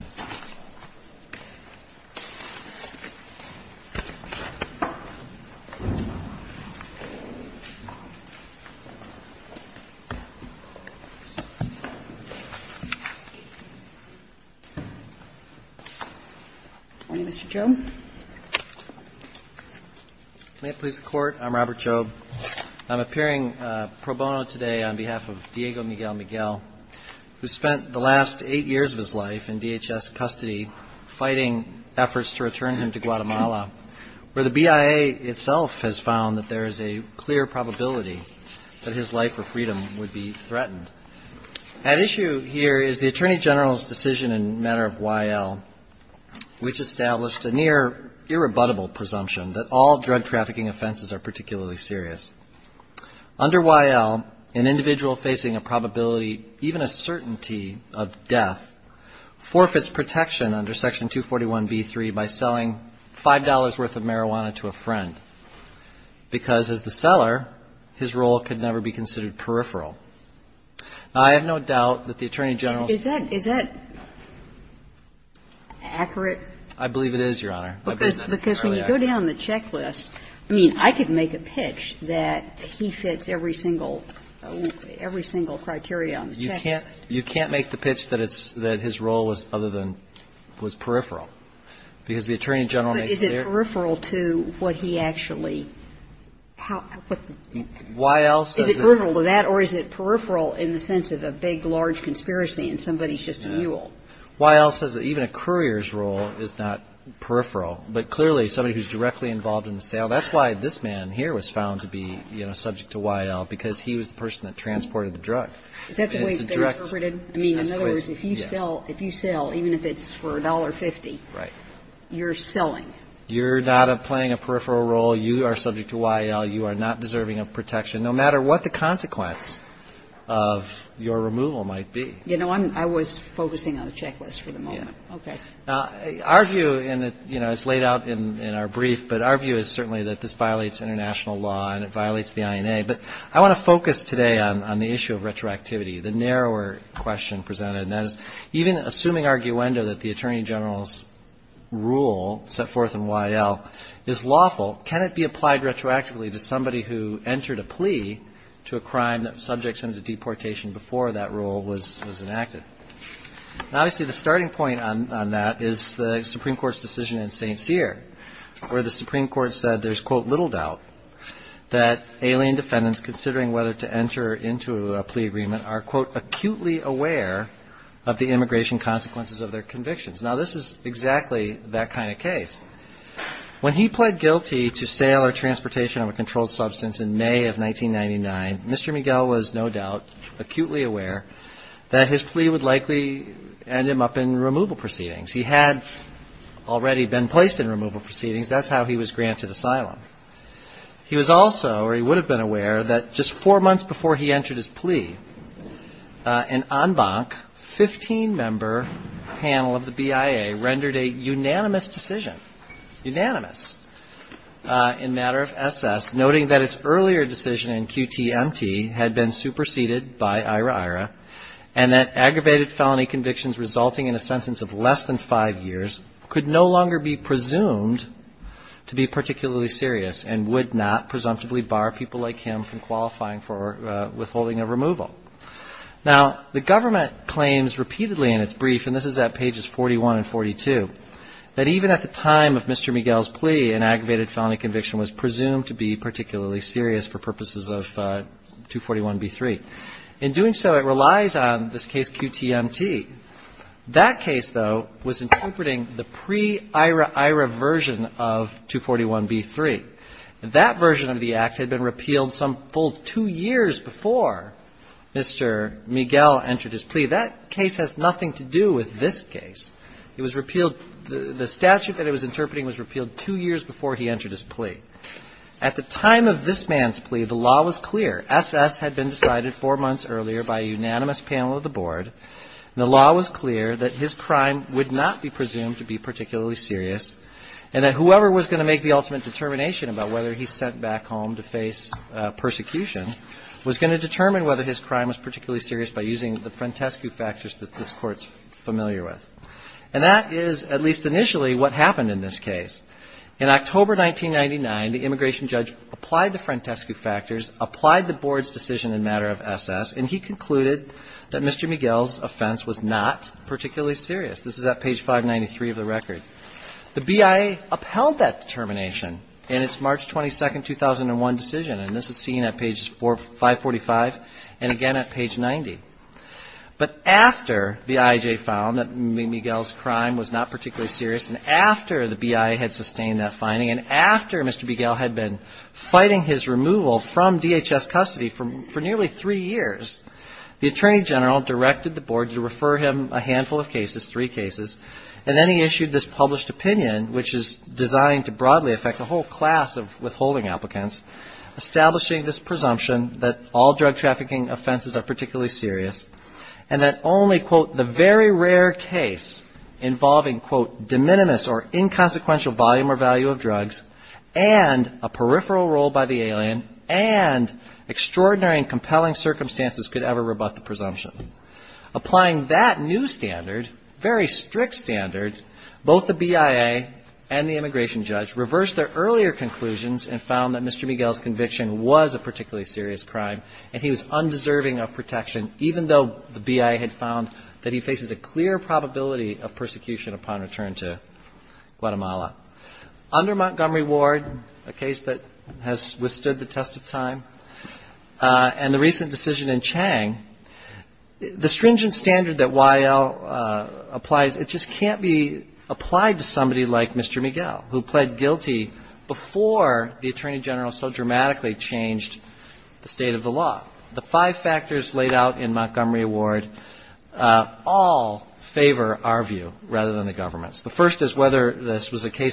Good morning, Mr. Jobe. May it please the Court, I'm Robert Jobe. I'm appearing pro bono today on behalf of Diego Miguel-Miguel, who spent the last eight years of his life in DHS custody fighting efforts to return him to Guatemala, where the BIA itself has found that there is a clear probability that his life or freedom would be threatened. At issue here is the Attorney General's decision in the matter of YL, which established a near irrebuttable presumption that all drug trafficking offenses are particularly serious. Under YL, an individual facing a probability, even a certainty of death, forfeits protection under Section 241b-3 by selling $5 worth of marijuana to a friend, because as the seller, his role could never be considered peripheral. Now, I have no doubt that the Attorney General's ---- KAGAN Is that accurate? JOBE I believe it is, Your Honor. I believe that's entirely accurate. KAGAN Because when you go down the checklist, I mean, I could make a pitch that he fits every single ---- every single criteria on the checklist. JOBE You can't make the pitch that it's ---- that his role was other than ---- was peripheral. Because the Attorney General makes clear ---- KAGAN But is it peripheral to what he actually ---- how ---- what the ---- JOBE Why YL says that ---- KAGAN Is it peripheral to that, or is it peripheral in the sense of a big, large conspiracy and somebody's just a mule? JOBE YL says that even a courier's role is not peripheral. But clearly, somebody who's directly involved in the sale, that's why this man here was found to be, you know, a peripheral to YL, because he was the person that transported the drug. KAGAN Is that the way it's interpreted? JOBE Yes. KAGAN I mean, in other words, if you sell, if you sell, even if it's for $1.50, you're selling. JOBE You're not playing a peripheral role. You are subject to YL. You are not deserving of protection, no matter what the consequence of your removal might be. KAGAN You know, I'm ---- I was focusing on the checklist for the moment. JOBE Yeah. KAGAN Okay. JOBE Now, our view, and it's laid out in our brief, but our view is certainly that this violates international law and it violates the INA. But I want to focus today on the issue of retroactivity, the narrower question presented. And that is, even assuming arguendo that the Attorney General's rule set forth in YL is lawful, can it be applied retroactively to somebody who entered a plea to a crime that subjects him to deportation before that rule was enacted? Now, obviously, the starting point on that is the Supreme Court's decision in 1999, there was, quote, little doubt that alien defendants considering whether to enter into a plea agreement are, quote, acutely aware of the immigration consequences of their convictions. Now, this is exactly that kind of case. When he pled guilty to sale or transportation of a controlled substance in May of 1999, Mr. Miguel was no doubt acutely aware that his plea would likely end him up in removal proceedings. He had already been placed in removal proceedings. That's how he was granted asylum. He was also, or he would have been aware that just four months before he entered his plea, an en banc 15-member panel of the BIA rendered a unanimous decision, unanimous, in matter of SS, noting that its earlier decision in QTMT had been superseded by IRA-IRA, and that aggravated felony convictions resulting in a sentence of less than five years could no longer be presumed to be particularly serious and would not presumptively bar people like him from qualifying for withholding of removal. Now, the government claims repeatedly in its brief, and this is at pages 41 and 42, that even at the time of Mr. Miguel's plea, an aggravated felony conviction was presumed to be particularly serious for purposes of 241b-3. In doing so, it relies on this case QTMT. That case, though, was interpreting the pre-Iran-Iran version of 241b-3. That version of the Act had been repealed some full two years before Mr. Miguel entered his plea. That case has nothing to do with this case. It was repealed, the statute that it was interpreting was repealed two years before he entered his plea. At the time of this man's plea, the law was clear. SS had been decided four months earlier by a unanimous panel of the board, and the law was clear that his crime would not be presumed to be particularly serious and that whoever was going to make the ultimate determination about whether he's sent back home to face persecution was going to determine whether his crime was particularly serious by using the Frantescu factors that this Court's familiar with. And that is, at least initially, what happened in this case. In October 1999, the immigration judge applied the Frantescu factors, applied the board's decision in a matter of SS, and he concluded that Mr. Miguel's offense was not particularly serious. This is at page 593 of the record. The BIA upheld that determination in its March 22, 2001 decision, and this is seen at pages 545 and again at page 90. But after the IJ found that Miguel's crime was not particularly serious, and after the BIA had sustained that finding, and after Mr. Miguel's removal from DHS custody for nearly three years, the attorney general directed the board to refer him a handful of cases, three cases, and then he issued this published opinion, which is designed to broadly affect a whole class of withholding applicants, establishing this presumption that all drug trafficking offenses are particularly serious, and that only, quote, the very rare case involving, quote, de minimis or de minimis, and extraordinary and compelling circumstances could ever rebut the presumption. Applying that new standard, very strict standard, both the BIA and the immigration judge reversed their earlier conclusions and found that Mr. Miguel's conviction was a particularly serious crime, and he was undeserving of protection, even though the BIA had found that he faces a clear probability of persecution upon return to Guatemala. Under Montgomery Ward, a case that has withstood the test of time, and the recent decision in Chang, the stringent standard that Y.L. applies, it just can't be applied to somebody like Mr. Miguel, who pled guilty before the attorney general so dramatically changed the state of the law. The five factors laid out in Montgomery Ward all favor our case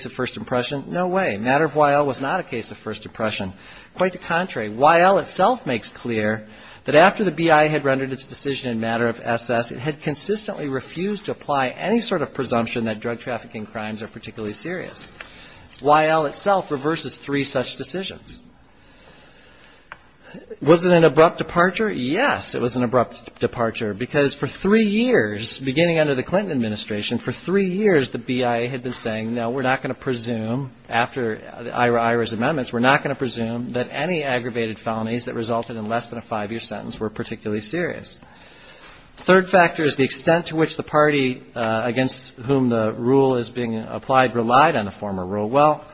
of first impression. No way. Matter of Y.L. was not a case of first impression. Quite the contrary. Y.L. itself makes clear that after the BIA had rendered its decision in Matter of S.S., it had consistently refused to apply any sort of presumption that drug trafficking crimes are particularly serious. Y.L. itself reverses three such decisions. Was it an abrupt departure? Yes, it was an abrupt departure, because for three years, beginning under the Clinton administration, for three years the BIA had been saying, no, we're not going to presume, after Ira's amendments, we're not going to presume that any aggravated felonies that resulted in less than a five-year sentence were particularly serious. The third factor is the extent to which the party against whom the rule is being applied relied on the former rule. Well,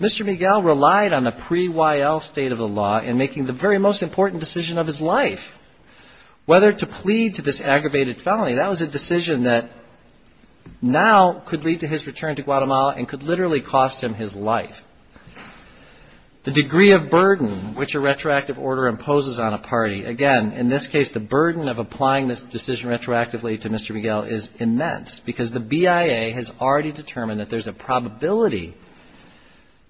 Mr. Miguel relied on the pre-Y.L. state of the law in making the very most important decision of his life, whether to plead to this aggravated felony. That was a decision that now could lead to his return to Guatemala and could literally cost him his life. The degree of burden which a retroactive order imposes on a party, again, in this case the burden of applying this decision retroactively to Mr. Miguel is immense, because the BIA has already determined that there's a probability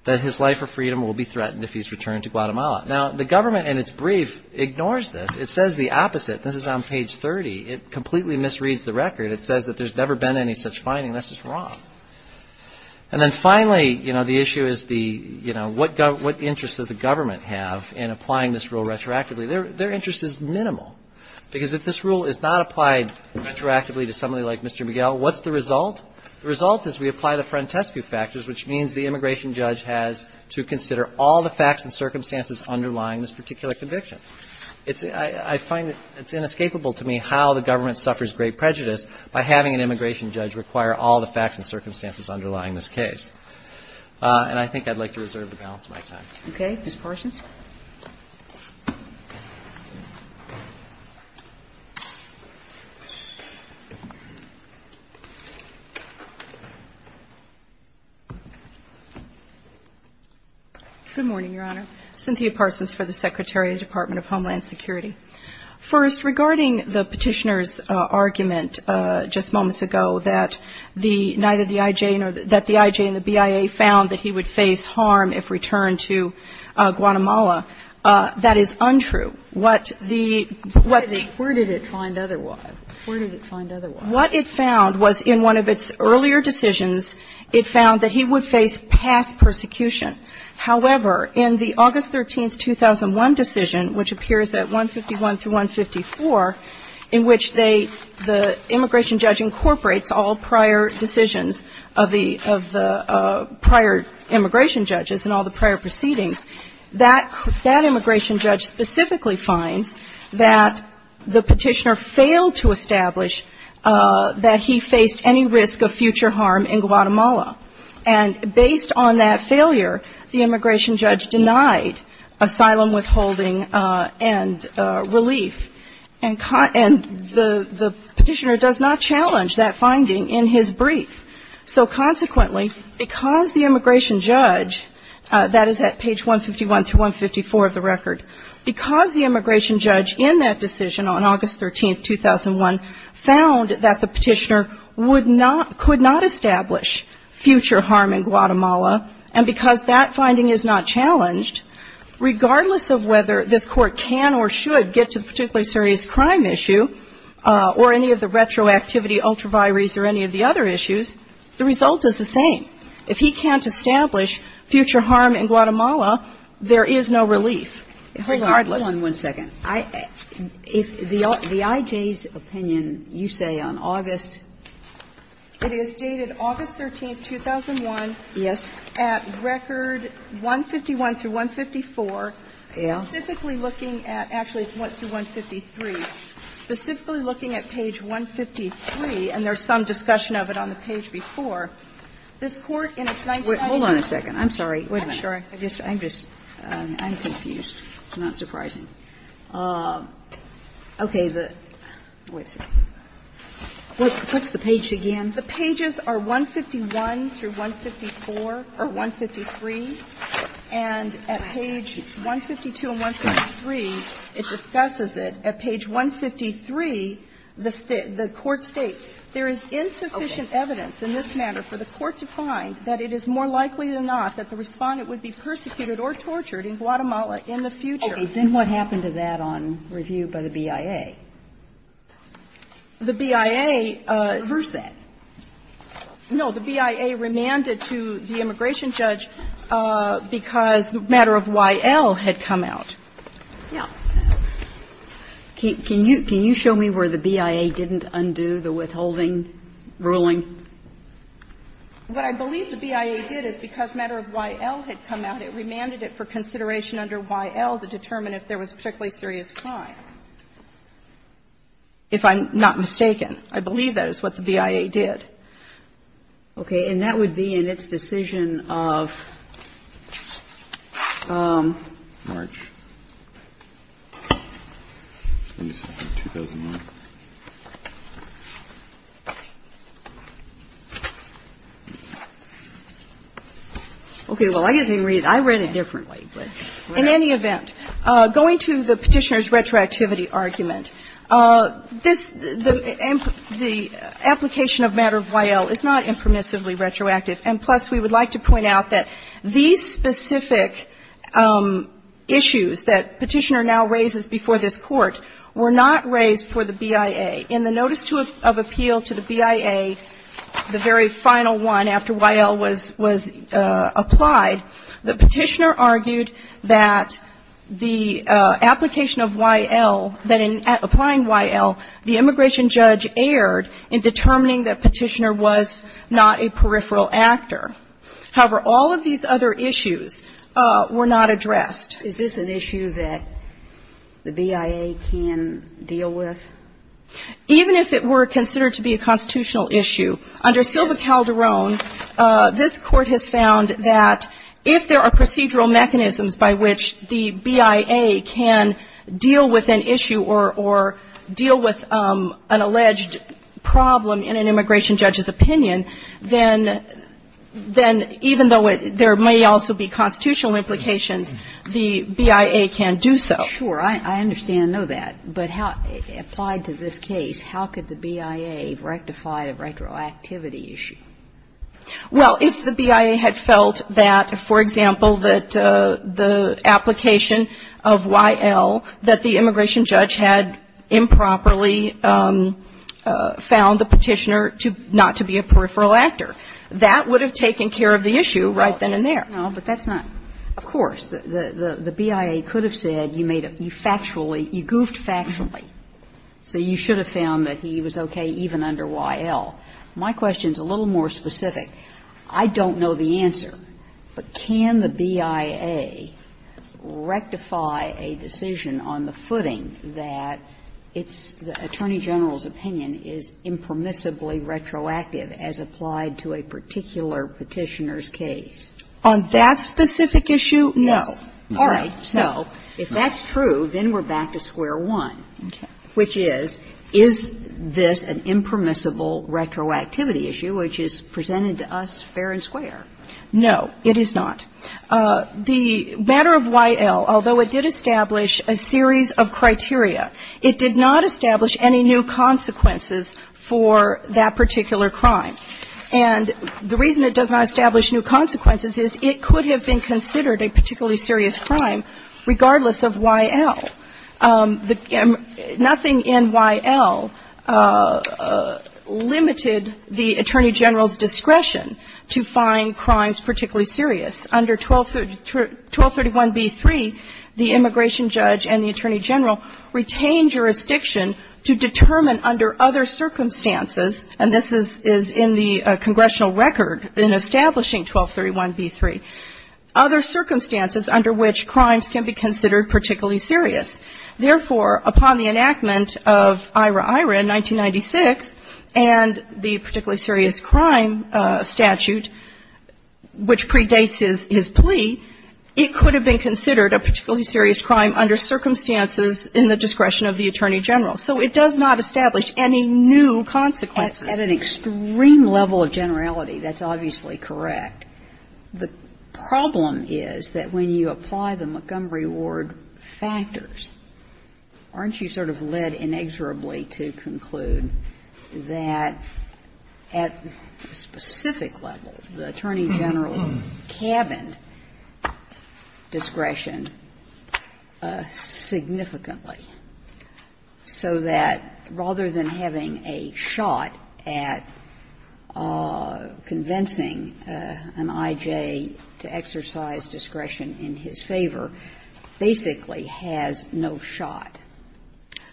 that his life or freedom will be threatened if he's returned to Guatemala. Now, the government, in its brief, ignores this. It says the opposite. This is on page 30. It completely misreads the record. It says that there's never been any such finding. That's just wrong. And then finally, you know, the issue is the, you know, what interest does the government have in applying this rule retroactively? Their interest is minimal, because if this rule is not applied retroactively to somebody like Mr. Miguel, what's the result? The result is we apply the frontescue factors, which means the immigration judge has to consider all the facts and circumstances underlying this particular conviction. I find it's inescapable to me how the government suffers great prejudice by having an immigration judge require all the facts and circumstances underlying this case. And I think I'd like to reserve the balance of my time. Okay. Ms. Parsons. Good morning, Your Honor. Cynthia Parsons for the Secretary of the Department of Homeland Security. First, regarding the Petitioner's argument just moments ago that the IJ and the BIA found that he would face harm if returned to Guatemala, that is untrue. What the — Where did it find otherwise? Where did it find otherwise? What it found was in one of its earlier decisions, it found that he would face past persecution. However, in the August 13, 2001 decision, which appears at 151 through 154, in which they — the immigration judge incorporates all prior decisions of the prior immigration judges and all the prior proceedings, that immigration judge specifically finds that the Petitioner failed to establish that he faced any risk of future harm in Guatemala. And based on that failure, the immigration judge denied asylum withholding and relief. And the Petitioner does not challenge that finding in his brief. So consequently, because the immigration judge, that is at page 151 through 154 of the record, because the immigration judge in that decision on August 13, 2001, found that the Petitioner would not — could not establish future harm in Guatemala, and because that finding is not challenged, regardless of whether this Court can or should get to the particular serious crime issue or any of the retroactivity, ultraviaries, or any of the other issues, the result is the same. If he can't establish future harm in Guatemala, there is no relief, regardless. Kagan. Hold on one second. If the I.J.'s opinion, you say on August? It is dated August 13, 2001. Yes. At record 151 through 154. Yes. Specifically looking at — actually, it's 1 through 153. Specifically looking at page 153, and there's some discussion of it on the page before, this Court in its 1990s — Hold on a second. I'm sorry. Wait a minute. I'm just — I'm confused. It's not surprising. Okay. What's the page again? The pages are 151 through 154 or 153. And at page 152 and 153, it discusses it. At page 153, the Court states, There is insufficient evidence in this matter for the Court to find that it is more likely than not that the Respondent would be persecuted or tortured in Guatemala in the future. Okay. Then what happened to that on review by the BIA? The BIA — Reverse that. No. The BIA remanded to the immigration judge because matter of Y.L. had come out. Yeah. Can you show me where the BIA didn't undo the withholding ruling? What I believe the BIA did is because matter of Y.L. had come out, it remanded it for consideration under Y.L. to determine if there was particularly serious crime. If I'm not mistaken. I believe that is what the BIA did. Okay. And that would be in its decision of March 2009. Okay. Well, I guess I can read it. I read it differently, but in any event, going to the Petitioner's retroactivity argument, this — the application of matter of Y.L. is not impermissibly retroactive. And plus, we would like to point out that these specific issues that Petitioner now raises before this Court were not raised for the BIA. In the notice of appeal to the BIA, the very final one after Y.L. was applied, the Petitioner argued that the application of Y.L., that in applying Y.L., the immigration judge erred in determining that Petitioner was not a peripheral actor. However, all of these other issues were not addressed. Is this an issue that the BIA can deal with? Even if it were considered to be a constitutional issue, under Silva Calderón, this Court has found that if there are procedural mechanisms by which the BIA can deal with an issue or deal with an alleged problem in an immigration judge's opinion, then even though there may also be constitutional implications, the BIA can do so. Sure. I understand and know that. But how — applied to this case, how could the BIA rectify a retroactivity issue? Well, if the BIA had felt that, for example, that the application of Y.L., that the immigration judge had improperly found the Petitioner to — not to be a peripheral actor, that would have taken care of the issue right then and there. No, but that's not — of course. The BIA could have said you made a — you factually — you goofed factually, so you should have found that he was okay even under Y.L. My question is a little more specific. I don't know the answer, but can the BIA rectify a decision on the footing that it's — the Attorney General's opinion is impermissibly retroactive as applied to a particular Petitioner's case? On that specific issue, no. All right. So if that's true, then we're back to square one. Okay. Which is, is this an impermissible retroactivity issue which is presented to us fair and square? No, it is not. The matter of Y.L., although it did establish a series of criteria, it did not establish any new consequences for that particular crime. And the reason it does not establish new consequences is it could have been considered a particularly serious crime regardless of Y.L. Nothing in Y.L. limited the Attorney General's discretion to find crimes particularly serious. Under 1231b-3, the immigration judge and the Attorney General retained jurisdiction to determine under other circumstances, and this is in the congressional record in establishing 1231b-3, other circumstances under which crimes can be considered particularly serious. Therefore, upon the enactment of IRA-IRA in 1996 and the particularly serious crime statute, which predates his plea, it could have been considered a particularly serious crime under circumstances in the discretion of the Attorney General. So it does not establish any new consequences. At an extreme level of generality, that's obviously correct. The problem is that when you apply the Montgomery Ward factors, aren't you sort of led inexorably to conclude that at a specific level, the Attorney General's cabined discretion significantly, so that rather than having a shot at convincing an I.J. to exercise discretion in his favor, basically has no shot?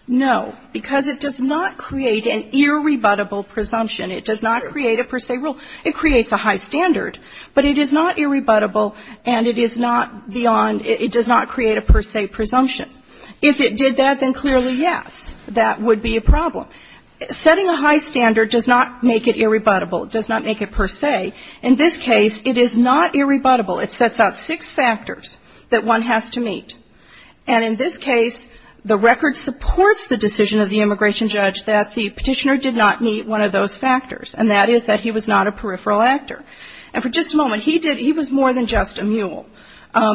No, because it does not create an irrebuttable presumption. It does not create a per se rule. It creates a high standard. But it is not irrebuttable and it is not beyond – it does not create a per se presumption. If it did that, then clearly, yes, that would be a problem. Setting a high standard does not make it irrebuttable. It does not make it per se. In this case, it is not irrebuttable. It sets out six factors that one has to meet. And in this case, the record supports the decision of the immigration judge that the Petitioner did not meet one of those factors, and that is that he was not a peripheral actor. And for just a moment, he did – he was more than just a mule.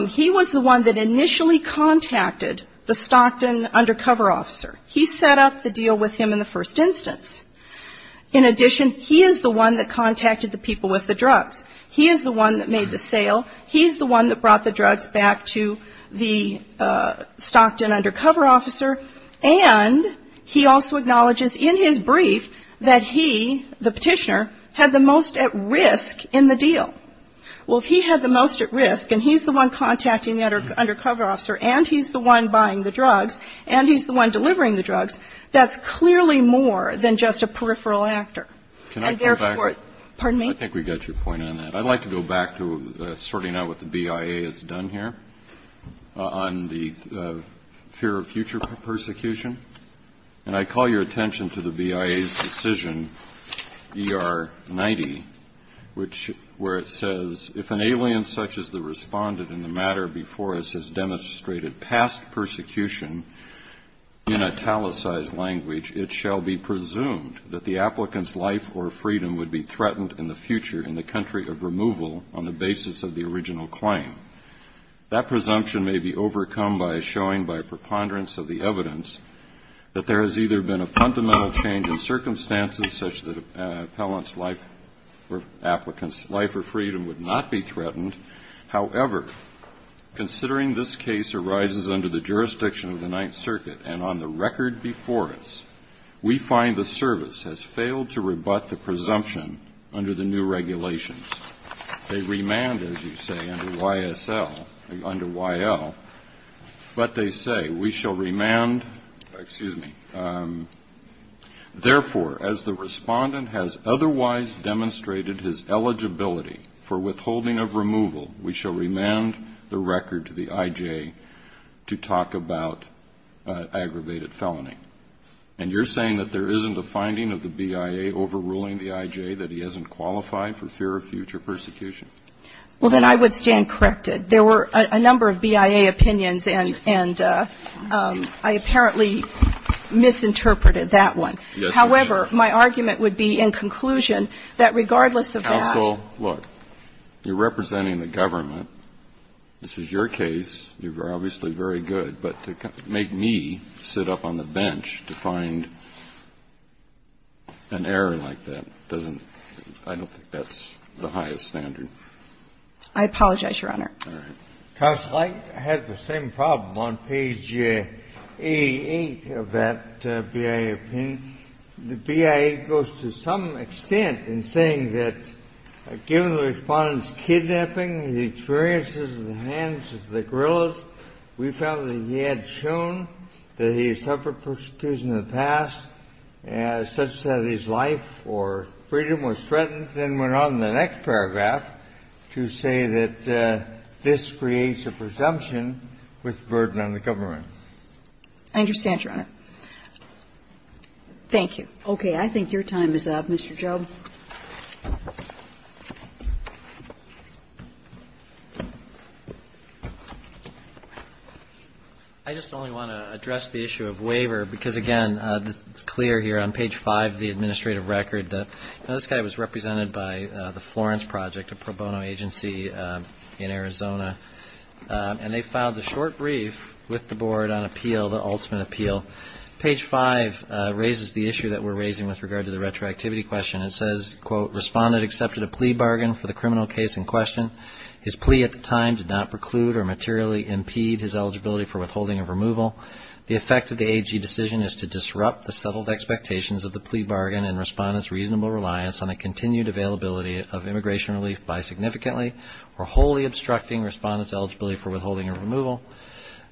He was the one that initially contacted the Stockton undercover officer. He set up the deal with him in the first instance. In addition, he is the one that contacted the people with the drugs. He is the one that made the sale. He is the one that brought the drugs back to the Stockton undercover officer. And he also acknowledges in his brief that he, the Petitioner, had the most at risk in the deal. Well, if he had the most at risk and he's the one contacting the undercover officer and he's the one buying the drugs and he's the one delivering the drugs, that's clearly more than just a peripheral actor. And therefore – Can I come back? Pardon me? I think we got your point on that. I'd like to go back to sorting out what the BIA has done here on the fear of future persecution. And I call your attention to the BIA's decision, ER90, which – where it says, if an alien such as the respondent in the matter before us has demonstrated past persecution in italicized language, it shall be presumed that the applicant's life or freedom would be threatened in the future in the country of removal on the basis of the original claim. That presumption may be overcome by showing, by preponderance of the evidence, that there has either been a fundamental change in circumstances such that an appellant's life or freedom would not be threatened. However, considering this case arises under the jurisdiction of the Ninth Circuit and on the record before us, we find the service has failed to rebut the presumption under the new regulations. They remand, as you say, under YSL – under YL. But they say, we shall remand – excuse me – therefore, as the respondent has stated, we shall remand the record to the I.J. to talk about aggravated felony. And you're saying that there isn't a finding of the BIA overruling the I.J. that he hasn't qualified for fear of future persecution? Well, then I would stand corrected. There were a number of BIA opinions, and I apparently misinterpreted that one. However, my argument would be in conclusion that regardless of that – So, look, you're representing the government. This is your case. You're obviously very good. But to make me sit up on the bench to find an error like that doesn't – I don't think that's the highest standard. I apologize, Your Honor. All right. Counsel, I had the same problem. On page 88 of that BIA opinion, the BIA goes to some extent in saying that given the respondent's kidnapping, the experiences of the hands of the guerrillas, we found that he had shown that he had suffered persecution in the past such that his life or freedom was threatened. And then went on in the next paragraph to say that this creates a presumption with burden on the government. I understand, Your Honor. Thank you. Okay. I think your time is up, Mr. Job. I just only want to address the issue of waiver because, again, it's clear here on page 5 of the administrative record. This guy was represented by the Florence Project, a pro bono agency in Arizona. And they filed a short brief with the board on appeal, the ultimate appeal. Page 5 raises the issue that we're raising with regard to the retroactivity question. It says, quote, Respondent accepted a plea bargain for the criminal case in question. His plea at the time did not preclude or materially impede his eligibility for withholding of removal. The effect of the AG decision is to disrupt the settled expectations of the plea bargain and respondent's reasonable reliance on the continued availability of immigration relief by significantly or wholly obstructing respondent's eligibility for withholding of removal.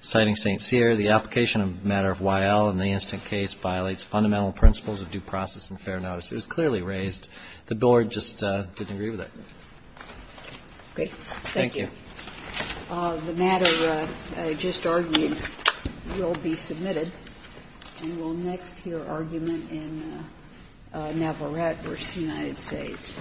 Citing St. Cyr, the application of a matter of Y.L. in the incident case violates fundamental principles of due process and fair notice. It was clearly raised. The board just didn't agree with it. Okay. Thank you. The matter I just argued will be submitted. And we'll next hear argument in Navarrete v. United States.